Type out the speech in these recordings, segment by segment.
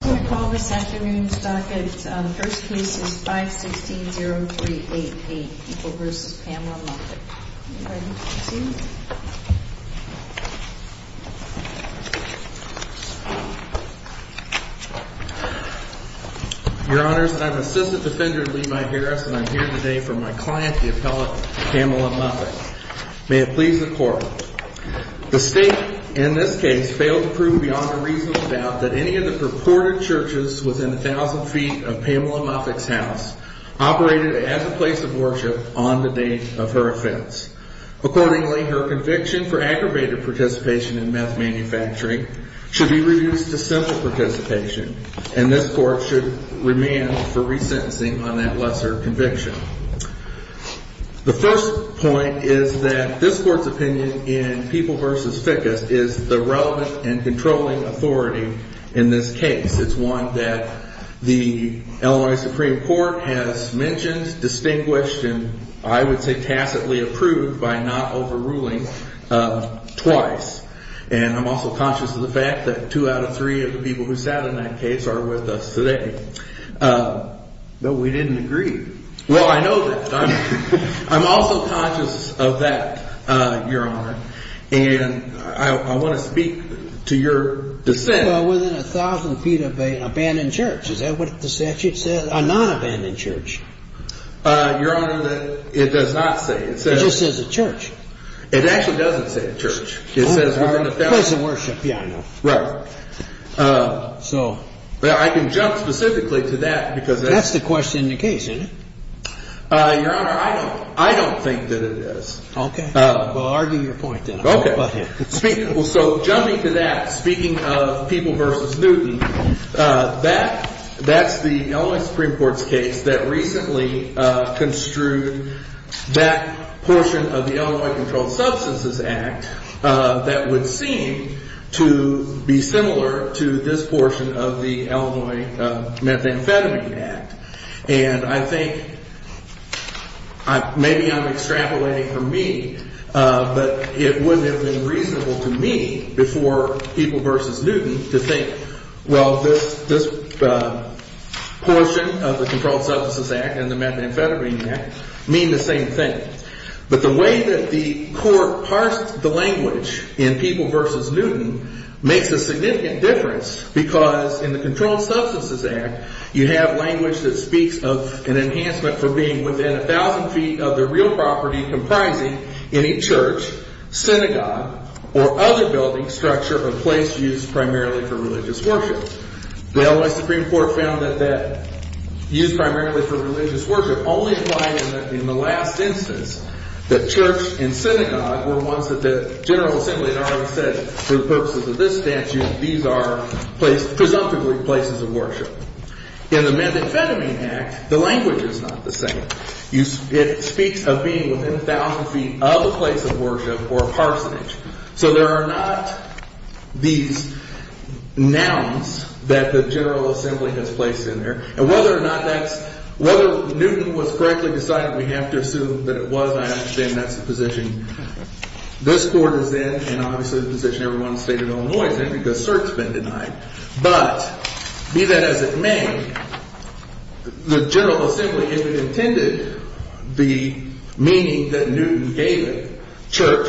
I'm going to call this afternoon's docket. The first case is 516-0388, People v. Pamela Muffick. Are you ready to proceed? Your Honors, I'm Assistant Defender Levi Harris, and I'm here today for my client, the appellate Pamela Muffick. May it please the Court. The State, in this case, failed to prove beyond a reasonable doubt that any of the purported churches within 1,000 feet of Pamela Muffick's house operated as a place of worship on the date of her offense. Accordingly, her conviction for aggravated participation in meth manufacturing should be reduced to simple participation, and this Court should remand for resentencing on that lesser conviction. The first point is that this Court's opinion in People v. Fickus is the relevant and controlling authority in this case. It's one that the Illinois Supreme Court has mentioned, distinguished, and I would say tacitly approved by not overruling twice. And I'm also conscious of the fact that two out of three of the people who sat on that case are with us today. But we didn't agree. Well, I know that. I'm also conscious of that, Your Honor. And I want to speak to your dissent. Well, within 1,000 feet of an abandoned church, is that what the statute says? A non-abandoned church. Your Honor, it does not say. It just says a church. It actually doesn't say a church. It says within a family. A place of worship, yeah, I know. Right. I can jump specifically to that. That's the question in the case, isn't it? Your Honor, I don't think that it is. Okay. Well, argue your point then. Okay. So jumping to that, speaking of People v. Newton, that's the Illinois Supreme Court's case that recently construed that portion of the Illinois Controlled Substances Act that would seem to be similar to this portion of the Illinois Methamphetamine Act. And I think maybe I'm extrapolating for me, but it wouldn't have been reasonable to me before People v. Newton to think, well, this portion of the Controlled Substances Act and the Methamphetamine Act mean the same thing. But the way that the court parsed the language in People v. Newton makes a significant difference because in the Controlled Substances Act, you have language that speaks of an enhancement for being within 1,000 feet of the real property comprising any church, synagogue, or other building structure or place used primarily for religious worship. The Illinois Supreme Court found that that used primarily for religious worship only applied in the last instance that church and synagogue were ones that the General Assembly had already said for the purposes of this statute, these are presumptively places of worship. In the Methamphetamine Act, the language is not the same. It speaks of being within 1,000 feet of a place of worship or a parsonage. So there are not these nouns that the General Assembly has placed in there. And whether or not that's – whether Newton was correctly decided, we have to assume that it was. I understand that's the position this court is in and obviously the position everyone in the state of Illinois is in because cert's been denied. But be that as it may, the General Assembly, if it intended the meaning that Newton gave it, church,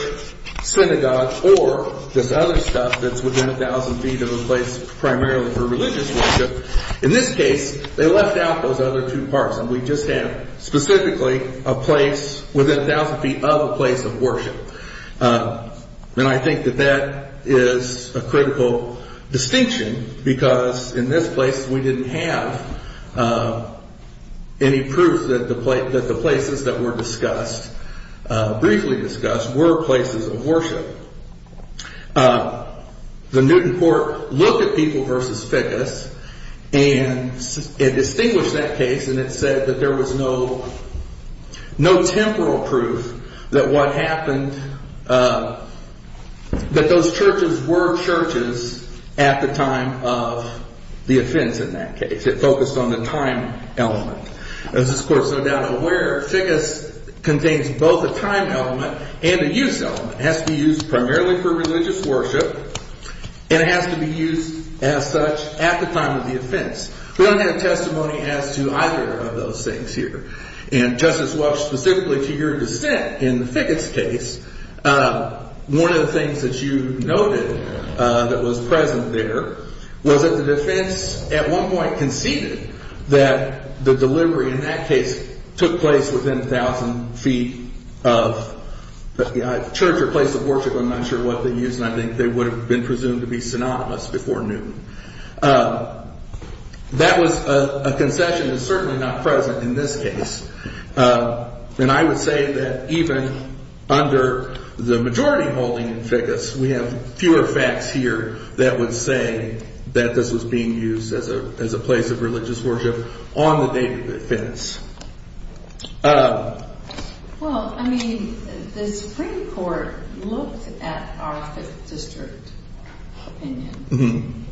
synagogue, or this other stuff that's within 1,000 feet of a place primarily for religious worship, in this case, they left out those other two parts and we just have specifically a place within 1,000 feet of a place of worship. And I think that that is a critical distinction because in this place we didn't have any proof that the places that were discussed, briefly discussed, were places of worship. The Newton court looked at people versus ficus and it distinguished that case and it said that there was no temporal proof that what happened – that those churches were churches at the time of the offense in that case. It focused on the time element. As this court is no doubt aware, ficus contains both a time element and a use element. It has to be used primarily for religious worship and it has to be used as such at the time of the offense. We don't have testimony as to either of those things here. And Justice Welch, specifically to your dissent in the ficus case, one of the things that you noted that was present there was that the defense at one point conceded that the delivery in that case took place within 1,000 feet of church or place of worship. I'm not sure what they used and I think they would have been presumed to be synonymous before Newton. That was a concession that's certainly not present in this case. And I would say that even under the majority holding in ficus, we have fewer facts here that would say that this was being used as a place of religious worship on the date of the offense. Well, I mean, the Supreme Court looked at our Fifth District opinion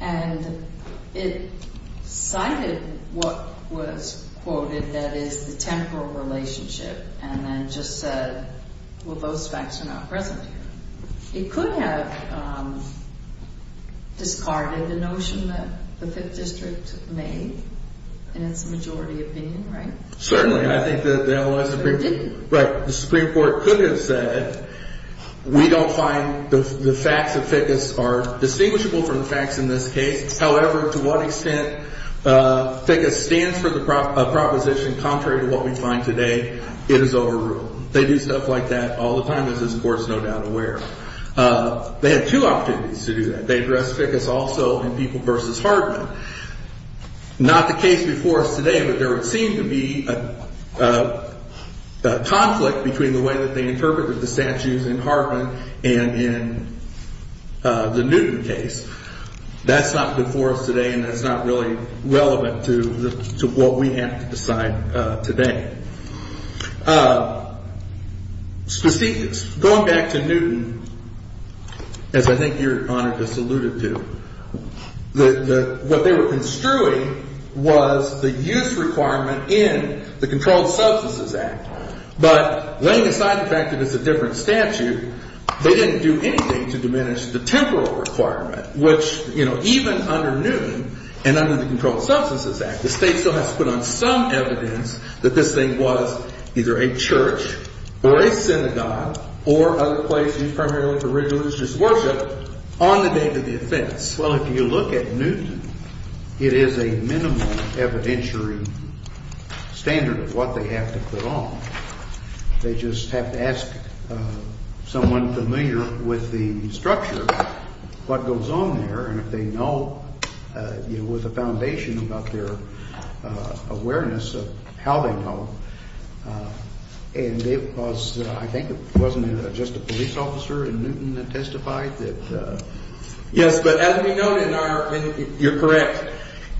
and it cited what was quoted that is the temporal relationship and then just said, well, those facts are not present here. It could have discarded the notion that the Fifth District made in its majority opinion, right? Certainly. I think that the Supreme Court could have said we don't find the facts of ficus are distinguishable from the facts in this case. However, to what extent ficus stands for the proposition contrary to what we find today, it is overruled. They do stuff like that all the time, as this Court is no doubt aware. They had two opportunities to do that. They addressed ficus also in People v. Hardman. Not the case before us today, but there seemed to be a conflict between the way that they interpreted the statues in Hardman and in the Newton case. That's not before us today and that's not really relevant to what we have to decide today. Specifics. Going back to Newton, as I think Your Honor just alluded to, what they were construing was the use requirement in the Controlled Substances Act. But laying aside the fact that it's a different statute, they didn't do anything to diminish the temporal requirement, which, you know, even under Newton and under the Controlled Substances Act, the State still has to put on some evidence that this thing was either a church or a synagogue or other place used primarily for religious worship on the date of the offense. Well, if you look at Newton, it is a minimal evidentiary standard of what they have to put on. They just have to ask someone familiar with the structure what goes on there and if they know, you know, with a foundation about their awareness of how they know. And it was, I think it wasn't just a police officer in Newton that testified that. Yes, but as we know, Your Honor, you're correct,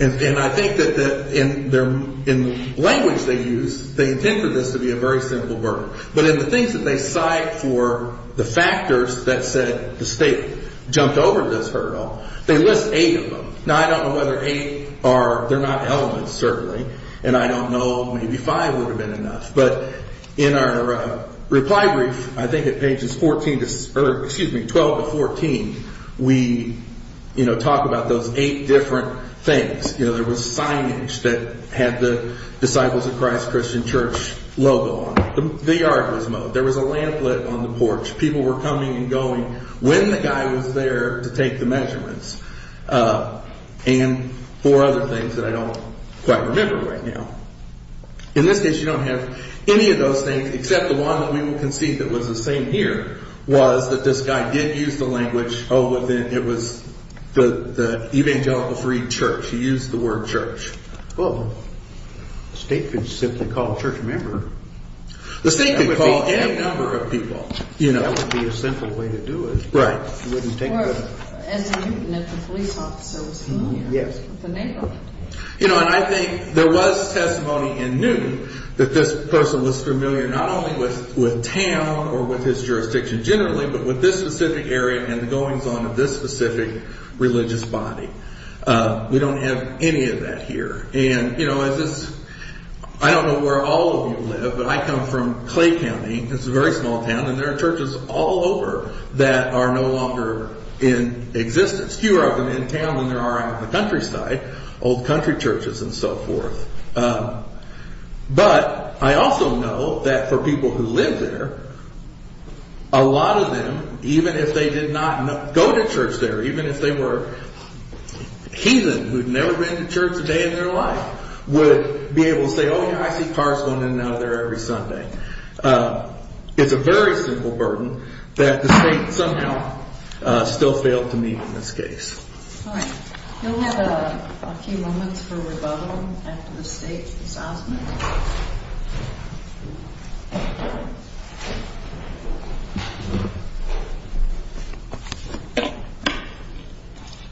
and I think that in the language they use, they intend for this to be a very simple burden. But in the things that they cite for the factors that said the State jumped over this hurdle, they list eight of them. Now, I don't know whether eight are, they're not elements, certainly, and I don't know, maybe five would have been enough. But in our reply brief, I think at pages 14, excuse me, 12 to 14, we, you know, talk about those eight different things. You know, there was signage that had the Disciples of Christ Christian Church logo on it. The yard was mowed. There was a lamp lit on the porch. People were coming and going when the guy was there to take the measurements. And four other things that I don't quite remember right now. In this case, you don't have any of those things except the one that we will concede that was the same here was that this guy did use the language, oh, it was the evangelical free church. He used the word church. Well, the State could simply call a church member. The State could call any number of people, you know. That would be a simple way to do it. Right. You wouldn't take the… Or, as in Newton, if the police officer was here. Yes. With the name on it. You know, and I think there was testimony in Newton that this person was familiar not only with town or with his jurisdiction generally, but with this specific area and the goings on of this specific religious body. We don't have any of that here. And, you know, as this… I don't know where all of you live, but I come from Clay County. It's a very small town. And there are churches all over that are no longer in existence. There's fewer of them in town than there are out in the countryside, old country churches and so forth. But I also know that for people who live there, a lot of them, even if they did not go to church there, even if they were heathen who had never been to church a day in their life, would be able to say, oh, yeah, I see cars going in and out of there every Sunday. It's a very simple burden that the state somehow still failed to meet in this case. All right. We'll have a few moments for rebuttal after the state's assessment.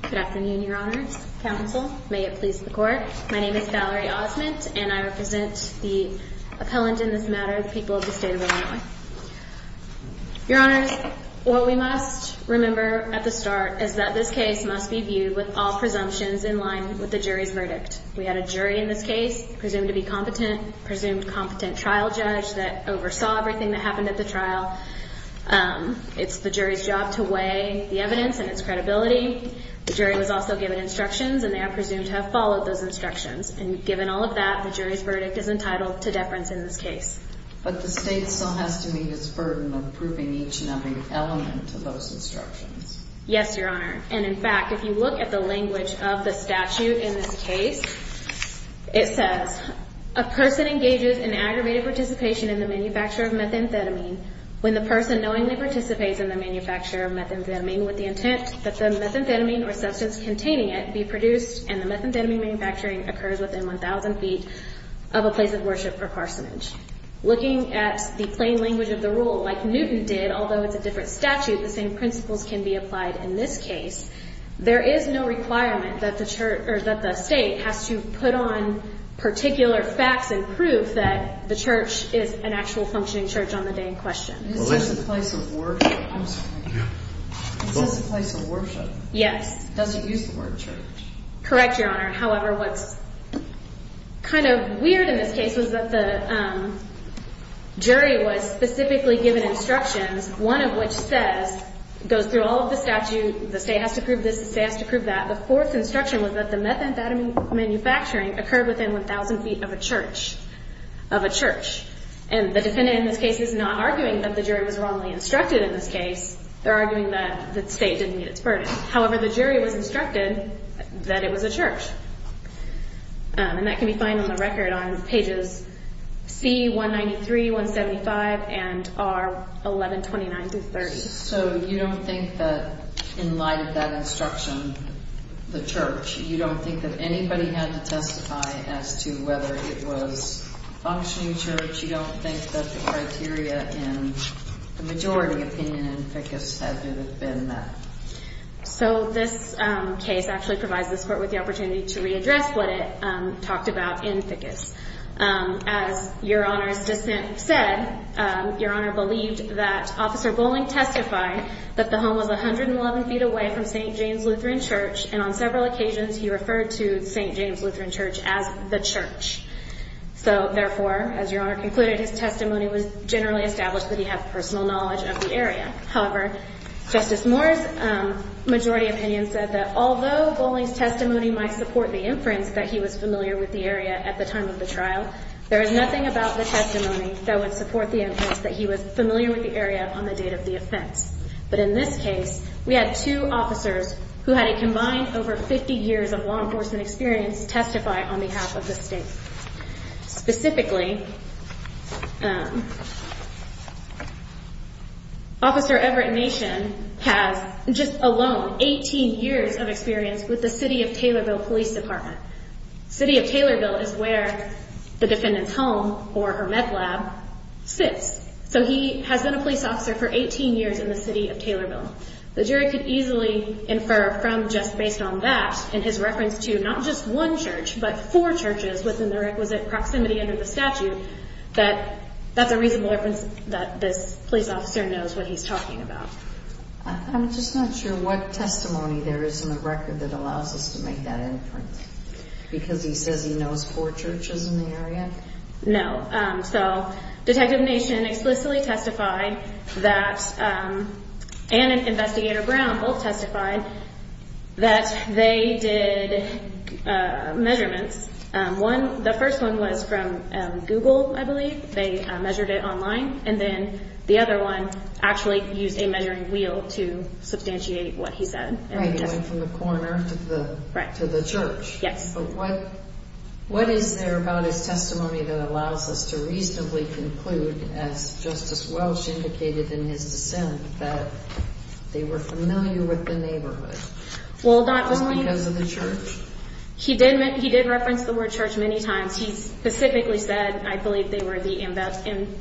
Good afternoon, Your Honors. Counsel, may it please the court. My name is Valerie Osment, and I represent the appellant in this matter, the people of the state of Illinois. Your Honors, what we must remember at the start is that this case must be viewed with all presumptions in line with the jury's verdict. We had a jury in this case presumed to be competent, presumed competent trial judge that oversaw everything that happened at the trial. It's the jury's job to weigh the evidence and its credibility. The jury was also given instructions, and they are presumed to have followed those instructions. And given all of that, the jury's verdict is entitled to deference in this case. But the state still has to meet its burden of approving each and every element of those instructions. Yes, Your Honor. And, in fact, if you look at the language of the statute in this case, it says, A person engages in aggravated participation in the manufacture of methamphetamine when the person knowingly participates in the manufacture of methamphetamine with the intent that the methamphetamine or substance containing it be produced, and the methamphetamine manufacturing occurs within 1,000 feet of a place of worship or parsonage. Looking at the plain language of the rule, like Newton did, although it's a different statute, the same principles can be applied in this case. There is no requirement that the state has to put on particular facts and proof that the church is an actual functioning church on the day in question. Is this a place of worship? I'm sorry. Is this a place of worship? Yes. Does it use the word church? Correct, Your Honor. However, what's kind of weird in this case is that the jury was specifically given instructions, one of which says, goes through all of the statute, the state has to prove this, the state has to prove that. The fourth instruction was that the methamphetamine manufacturing occurred within 1,000 feet of a church, of a church. And the defendant in this case is not arguing that the jury was wrongly instructed in this case. They're arguing that the state didn't meet its burden. However, the jury was instructed that it was a church. And that can be found on the record on pages C, 193, 175, and R, 1129-30. So you don't think that in light of that instruction, the church, you don't think that anybody had to testify as to whether it was a functioning church? You don't think that the criteria in the majority opinion in ficus had it been that? So this case actually provides this court with the opportunity to readdress what it talked about in ficus. As Your Honor's dissent said, Your Honor believed that Officer Bowling testified that the home was 111 feet away from St. James Lutheran Church, and on several occasions he referred to St. James Lutheran Church as the church. So therefore, as Your Honor concluded, his testimony was generally established that he had personal knowledge of the area. However, Justice Moore's majority opinion said that although Bowling's testimony might support the inference that he was familiar with the area at the time of the trial, there is nothing about the testimony that would support the inference that he was familiar with the area on the date of the offense. But in this case, we had two officers who had a combined over 50 years of law enforcement experience testify on behalf of the state. Specifically, Officer Everett Nation has just alone 18 years of experience with the City of Taylorville Police Department. City of Taylorville is where the defendant's home, or her med lab, sits. So he has been a police officer for 18 years in the City of Taylorville. The jury could easily infer from just based on that, and his reference to not just one church, but four churches within the requisite proximity under the statute, that that's a reasonable reference that this police officer knows what he's talking about. I'm just not sure what testimony there is in the record that allows us to make that inference, because he says he knows four churches in the area? No. So Detective Nation explicitly testified that, and Investigator Brown both testified, that they did measurements. The first one was from Google, I believe. They measured it online. And then the other one actually used a measuring wheel to substantiate what he said. Right, he went from the corner to the church. Yes. But what is there about his testimony that allows us to reasonably conclude, as Justice Welch indicated in his dissent, that they were familiar with the neighborhood? Was it because of the church? He did reference the word church many times. He specifically said, I believe, they were the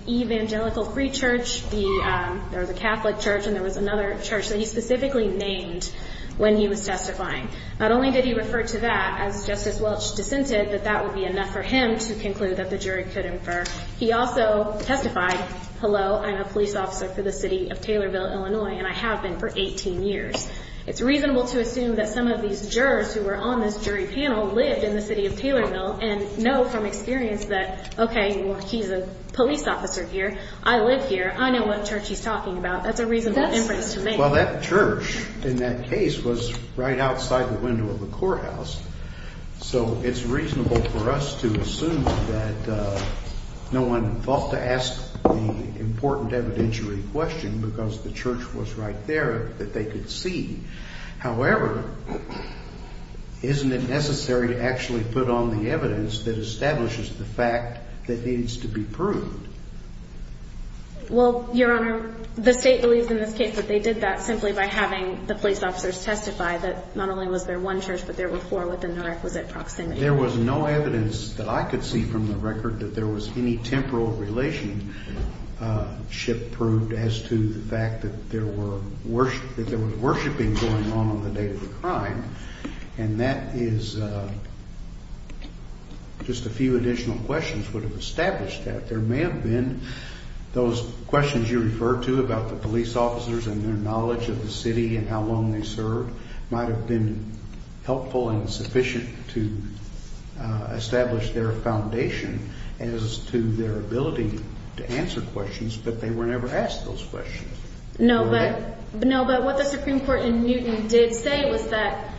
Evangelical Free Church, there was a Catholic church, and there was another church that he specifically named when he was testifying. Not only did he refer to that, as Justice Welch dissented, that that would be enough for him to conclude that the jury could infer, he also testified, hello, I'm a police officer for the city of Taylorville, Illinois, and I have been for 18 years. It's reasonable to assume that some of these jurors who were on this jury panel lived in the city of Taylorville and know from experience that, okay, well, he's a police officer here, I live here, I know what church he's talking about. That's a reasonable inference to make. Well, that church in that case was right outside the window of the courthouse. So it's reasonable for us to assume that no one thought to ask the important evidentiary question because the church was right there that they could see. However, isn't it necessary to actually put on the evidence that establishes the fact that needs to be proved? Well, Your Honor, the state believes in this case that they did that simply by having the police officers testify that not only was there one church, but there were four within the requisite proximity. There was no evidence that I could see from the record that there was any temporal relationship proved as to the fact that there were worshiping going on on the day of the crime, and that is just a few additional questions would have established that. There may have been those questions you referred to about the police officers and their knowledge of the city and how long they served might have been helpful and sufficient to establish their foundation as to their ability to answer questions, but they were never asked those questions. No, but what the Supreme Court in Newton did say was that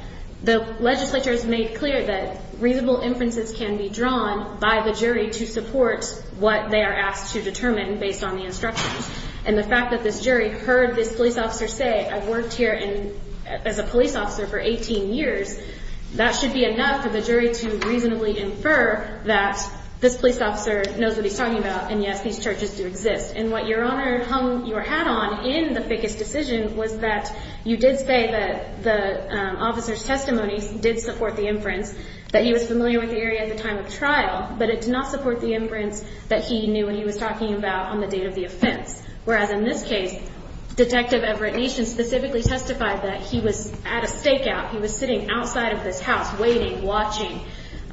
the legislature has made clear that reasonable inferences can be drawn by the jury to support what they are asked to determine based on the instructions. And the fact that this jury heard this police officer say, I've worked here as a police officer for 18 years, that should be enough for the jury to reasonably infer that this police officer knows what he's talking about and, yes, these churches do exist. And what, Your Honor, hung your hat on in the Fickus decision was that you did say that the officer's testimony did support the inference, that he was familiar with the area at the time of trial, but it did not support the inference that he knew and he was talking about on the date of the offense, whereas in this case, Detective Everett Neeson specifically testified that he was at a stakeout. He was sitting outside of this house waiting, watching,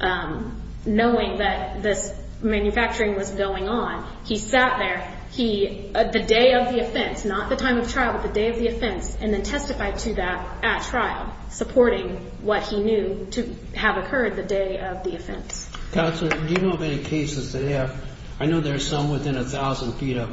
knowing that this manufacturing was going on. He sat there the day of the offense, not the time of trial, but the day of the offense, and then testified to that at trial, supporting what he knew to have occurred the day of the offense. Counsel, do you know of any cases that have, I know there's some within a thousand feet of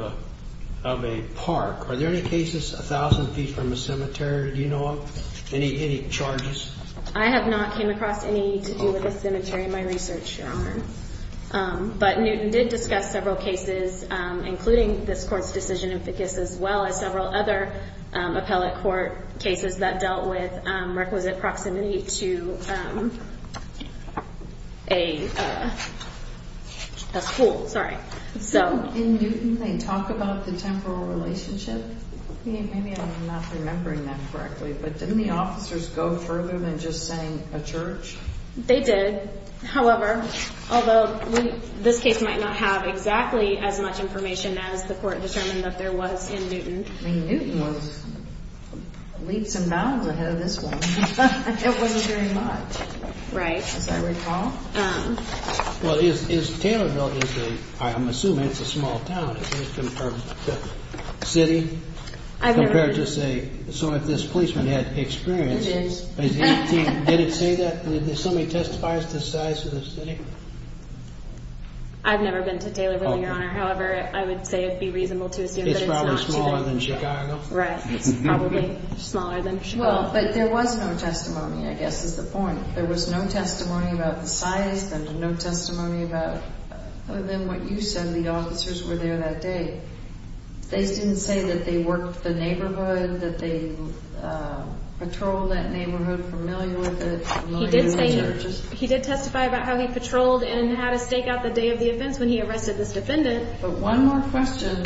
a park. Are there any cases a thousand feet from a cemetery? Do you know of any charges? I have not come across any to do with a cemetery in my research, Your Honor. But Newton did discuss several cases, including this Court's decision in Fickus, as well as several other appellate court cases that dealt with requisite proximity to a school. In Newton, they talk about the temporal relationship? Maybe I'm not remembering that correctly, but didn't the officers go further than just saying a church? They did. However, although this case might not have exactly as much information as the Court determined that there was in Newton. Newton was leaps and bounds ahead of this one. It wasn't very much, as I recall. Well, is Taylorville, I'm assuming it's a small town compared to the city? I've never been. Compared to say, so if this policeman had experience. It is. Did it say that? Did somebody testify to the size of the city? I've never been to Taylorville, Your Honor. However, I would say it would be reasonable to assume that it's not. It's probably smaller than Chicago? Right. It's probably smaller than Chicago. Well, but there was no testimony, I guess is the point. There was no testimony about the size, there was no testimony about, other than what you said, the officers were there that day. They didn't say that they worked the neighborhood, that they patrolled that neighborhood, familiar with it? He did testify about how he patrolled and how to stake out the day of the offense when he arrested this defendant. But one more question,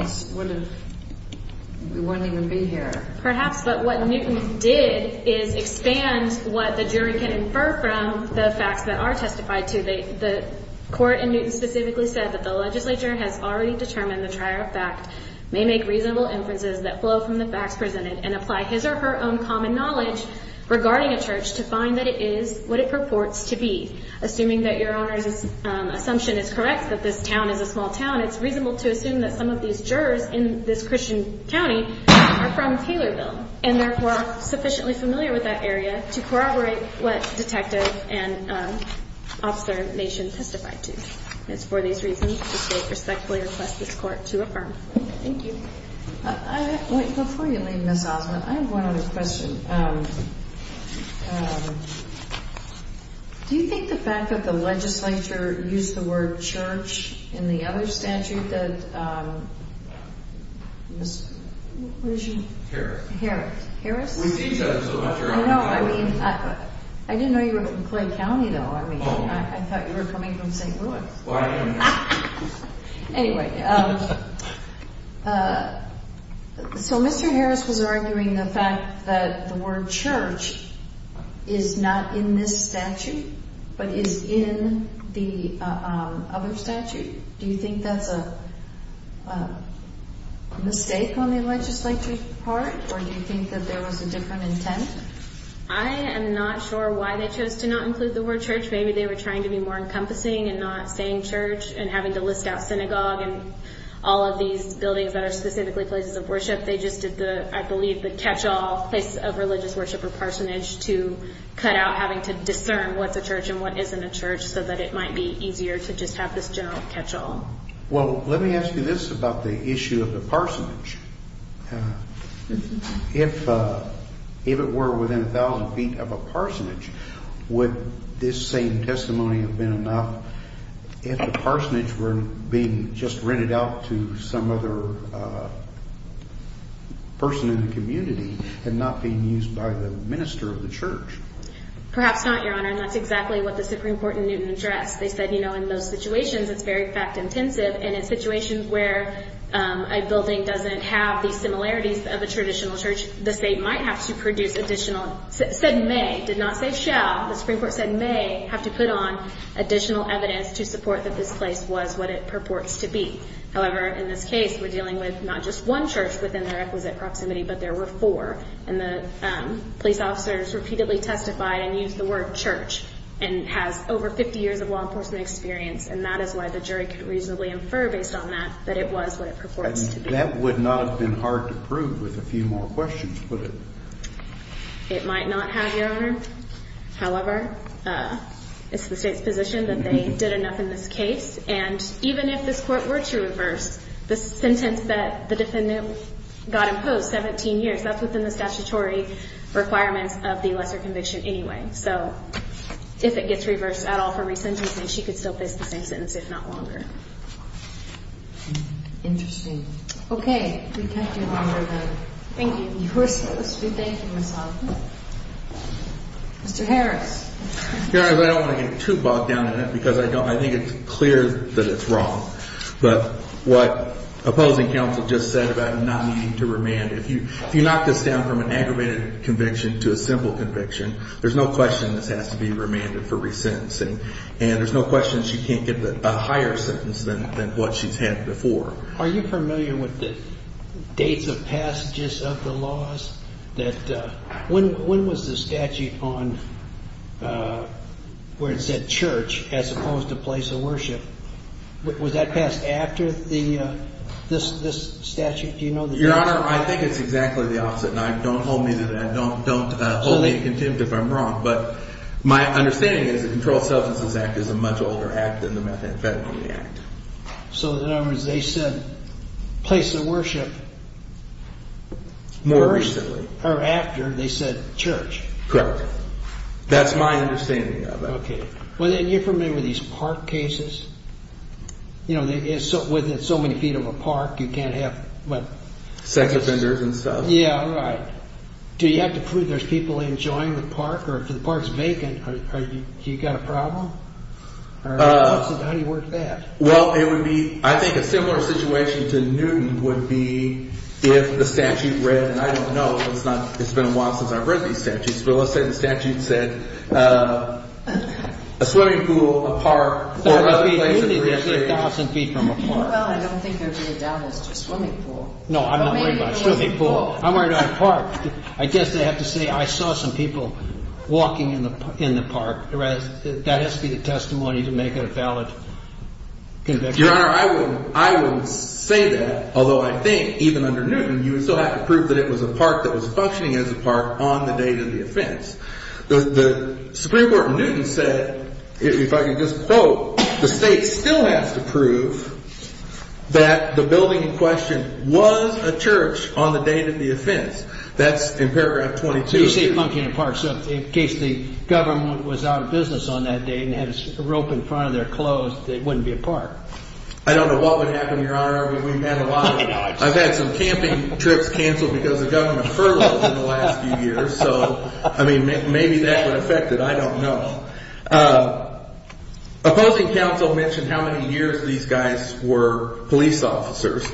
we wouldn't even be here. Perhaps, but what Newton did is expand what the jury can infer from the facts that are testified to. The court in Newton specifically said that the legislature has already determined the trier of fact may make reasonable inferences that flow from the facts presented and apply his or her own common knowledge regarding a church to find that it is what it purports to be. Assuming that Your Honor's assumption is correct that this town is a small town, it's reasonable to assume that some of these jurors in this Christian county are from Taylorville and therefore are sufficiently familiar with that area to corroborate what Detective and Officer Nation testified to. And it's for these reasons that we respectfully request this court to affirm. Thank you. Before you leave, Ms. Osment, I have one other question. Do you think the fact that the legislature used the word church in the other statute that Ms., what is your name? Harris. Harris. Harris? We see each other so much. I know. I mean, I didn't know you were from Clay County, though. I mean, I thought you were coming from St. Louis. Well, I am. Anyway, so Mr. Harris was arguing the fact that the word church is not in this statute but is in the other statute. Do you think that's a mistake on the legislature's part, or do you think that there was a different intent? I am not sure why they chose to not include the word church. Maybe they were trying to be more encompassing and not saying church and having to list out synagogue and all of these buildings that are specifically places of worship. They just did the, I believe, the catch-all place of religious worship or parsonage to cut out having to discern what's a church and what isn't a church so that it might be easier to just have this general catch-all. Well, let me ask you this about the issue of the parsonage. If it were within 1,000 feet of a parsonage, would this same testimony have been enough? If the parsonage were being just rented out to some other person in the community and not being used by the minister of the church? Perhaps not, Your Honor, and that's exactly what the Supreme Court in Newton addressed. They said, you know, in those situations, it's very fact-intensive, and in situations where a building doesn't have the similarities of a traditional church, the state might have to produce additional, said may, did not say shall. The Supreme Court said may have to put on additional evidence to support that this place was what it purports to be. However, in this case, we're dealing with not just one church within the requisite proximity, but there were four, and the police officers repeatedly testified and used the word church and has over 50 years of law enforcement experience, and that is why the jury could reasonably infer based on that that it was what it purports to be. That would not have been hard to prove with a few more questions, would it? It might not have, Your Honor. However, it's the state's position that they did enough in this case, and even if this court were to reverse, the sentence that the defendant got imposed, 17 years, that's within the statutory requirements of the lesser conviction anyway. So if it gets reversed at all for re-sentencing, she could still face the same sentence, if not longer. Interesting. Okay. We thank you, Your Honor. Thank you. We thank you, Ms. Hoffman. Mr. Harris. Your Honor, I don't want to get too bogged down in it because I think it's clear that it's wrong. But what opposing counsel just said about not needing to remand, if you knock this down from an aggravated conviction to a simple conviction, there's no question this has to be remanded for re-sentencing, and there's no question she can't get a higher sentence than what she's had before. Are you familiar with the dates of passages of the laws? When was the statute on where it said church as opposed to place of worship? Was that passed after this statute? Do you know the dates? Your Honor, I think it's exactly the opposite. Now, don't hold me to that. Don't hold me to contempt if I'm wrong. But my understanding is the Controlled Substances Act is a much older act than the Methamphetamine Act. So in other words, they said place of worship more recently. Or after they said church. Correct. That's my understanding of it. Okay. And you're familiar with these park cases? You know, with so many feet of a park, you can't have, what? Sex offenders and stuff. Yeah, right. Do you have to prove there's people enjoying the park? Or if the park's vacant, do you got a problem? Or how do you work that? Well, I think a similar situation to Newton would be if the statute read, and I don't know. It's been a while since I've read these statutes. But let's say the statute said a swimming pool, a park, or other place of recreation. You need to be 1,000 feet from a park. Well, I don't think there would be a doubt as to a swimming pool. No, I'm not worried about a swimming pool. I'm worried about a park. I guess I have to say I saw some people walking in the park. That has to be the testimony to make it a valid conviction. Your Honor, I wouldn't say that. Although I think even under Newton, you would still have to prove that it was a park that was functioning as a park on the date of the offense. The Supreme Court in Newton said, if I can just quote, the state still has to prove that the building in question was a church on the date of the offense. That's in paragraph 22. So you say functioning a park. So in case the government was out of business on that date and had a rope in front of their clothes, it wouldn't be a park. I don't know what would happen, Your Honor. We've had a lot of it. I mean, maybe that would affect it. I don't know. Opposing counsel mentioned how many years these guys were police officers.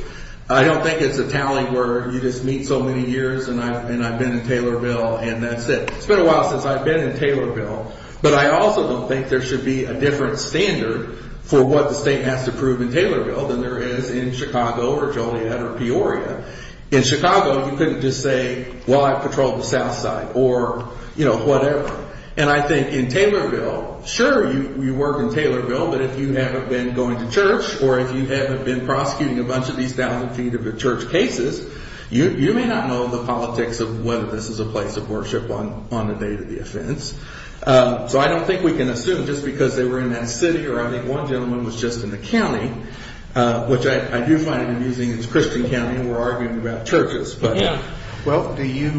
I don't think it's a tally where you just meet so many years and I've been in Taylorville and that's it. It's been a while since I've been in Taylorville, but I also don't think there should be a different standard for what the state has to prove in Taylorville than there is in Chicago or Joliet or Peoria. In Chicago, you couldn't just say, well, I patrol the south side or whatever. And I think in Taylorville, sure, you work in Taylorville, but if you haven't been going to church or if you haven't been prosecuting a bunch of these thousand feet of church cases, you may not know the politics of whether this is a place of worship on the date of the offense. So I don't think we can assume just because they were in that city or I think one gentleman was just in the county, which I do find it amusing. It's Christian County and we're arguing about churches. Well, do you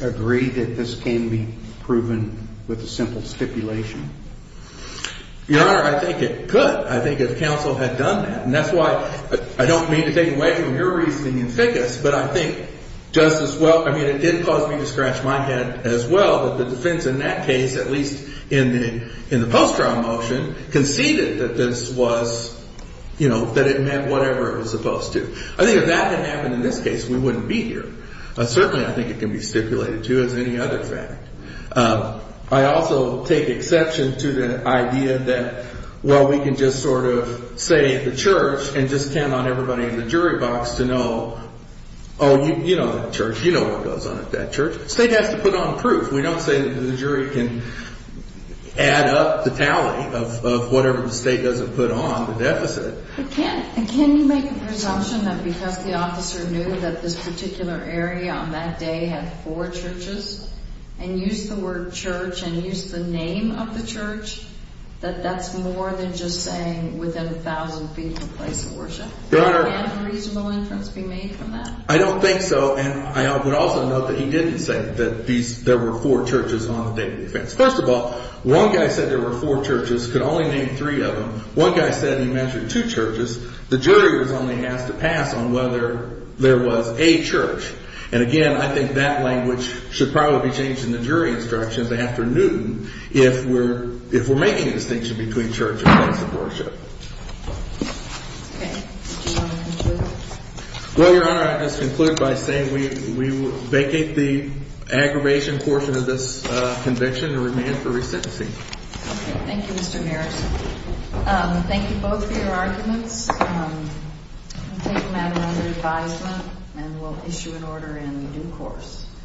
agree that this can be proven with a simple stipulation? Your Honor, I think it could. I think if counsel had done that. And that's why I don't mean to take away from your reasoning in Ficus, but I think just as well. I mean, it did cause me to scratch my head as well. The defense in that case, at least in the in the post-trial motion, conceded that this was, you know, that it meant whatever it was supposed to. I think if that had happened in this case, we wouldn't be here. Certainly, I think it can be stipulated, too, as any other fact. I also take exception to the idea that, well, we can just sort of say the church and just count on everybody in the jury box to know. Oh, you know that church. You know what goes on at that church. State has to put on proof. We don't say that the jury can add up the tally of whatever the state doesn't put on the deficit. Can you make a presumption that because the officer knew that this particular area on that day had four churches and used the word church and used the name of the church, that that's more than just saying within a thousand feet of a place of worship? Your Honor. Can a reasonable inference be made from that? I don't think so. And I would also note that he didn't say that these there were four churches on the day of the offense. First of all, one guy said there were four churches, could only name three of them. One guy said he mentioned two churches. The jury was only asked to pass on whether there was a church. And again, I think that language should probably be changed in the jury instructions after noon. If we're if we're making a distinction between church and place of worship. Well, Your Honor, I just conclude by saying we vacate the aggravation portion of this conviction and remand for resentment. Thank you, Mr. Maris. Thank you both for your arguments. We'll take them out of under advisement and we'll issue an order in due course.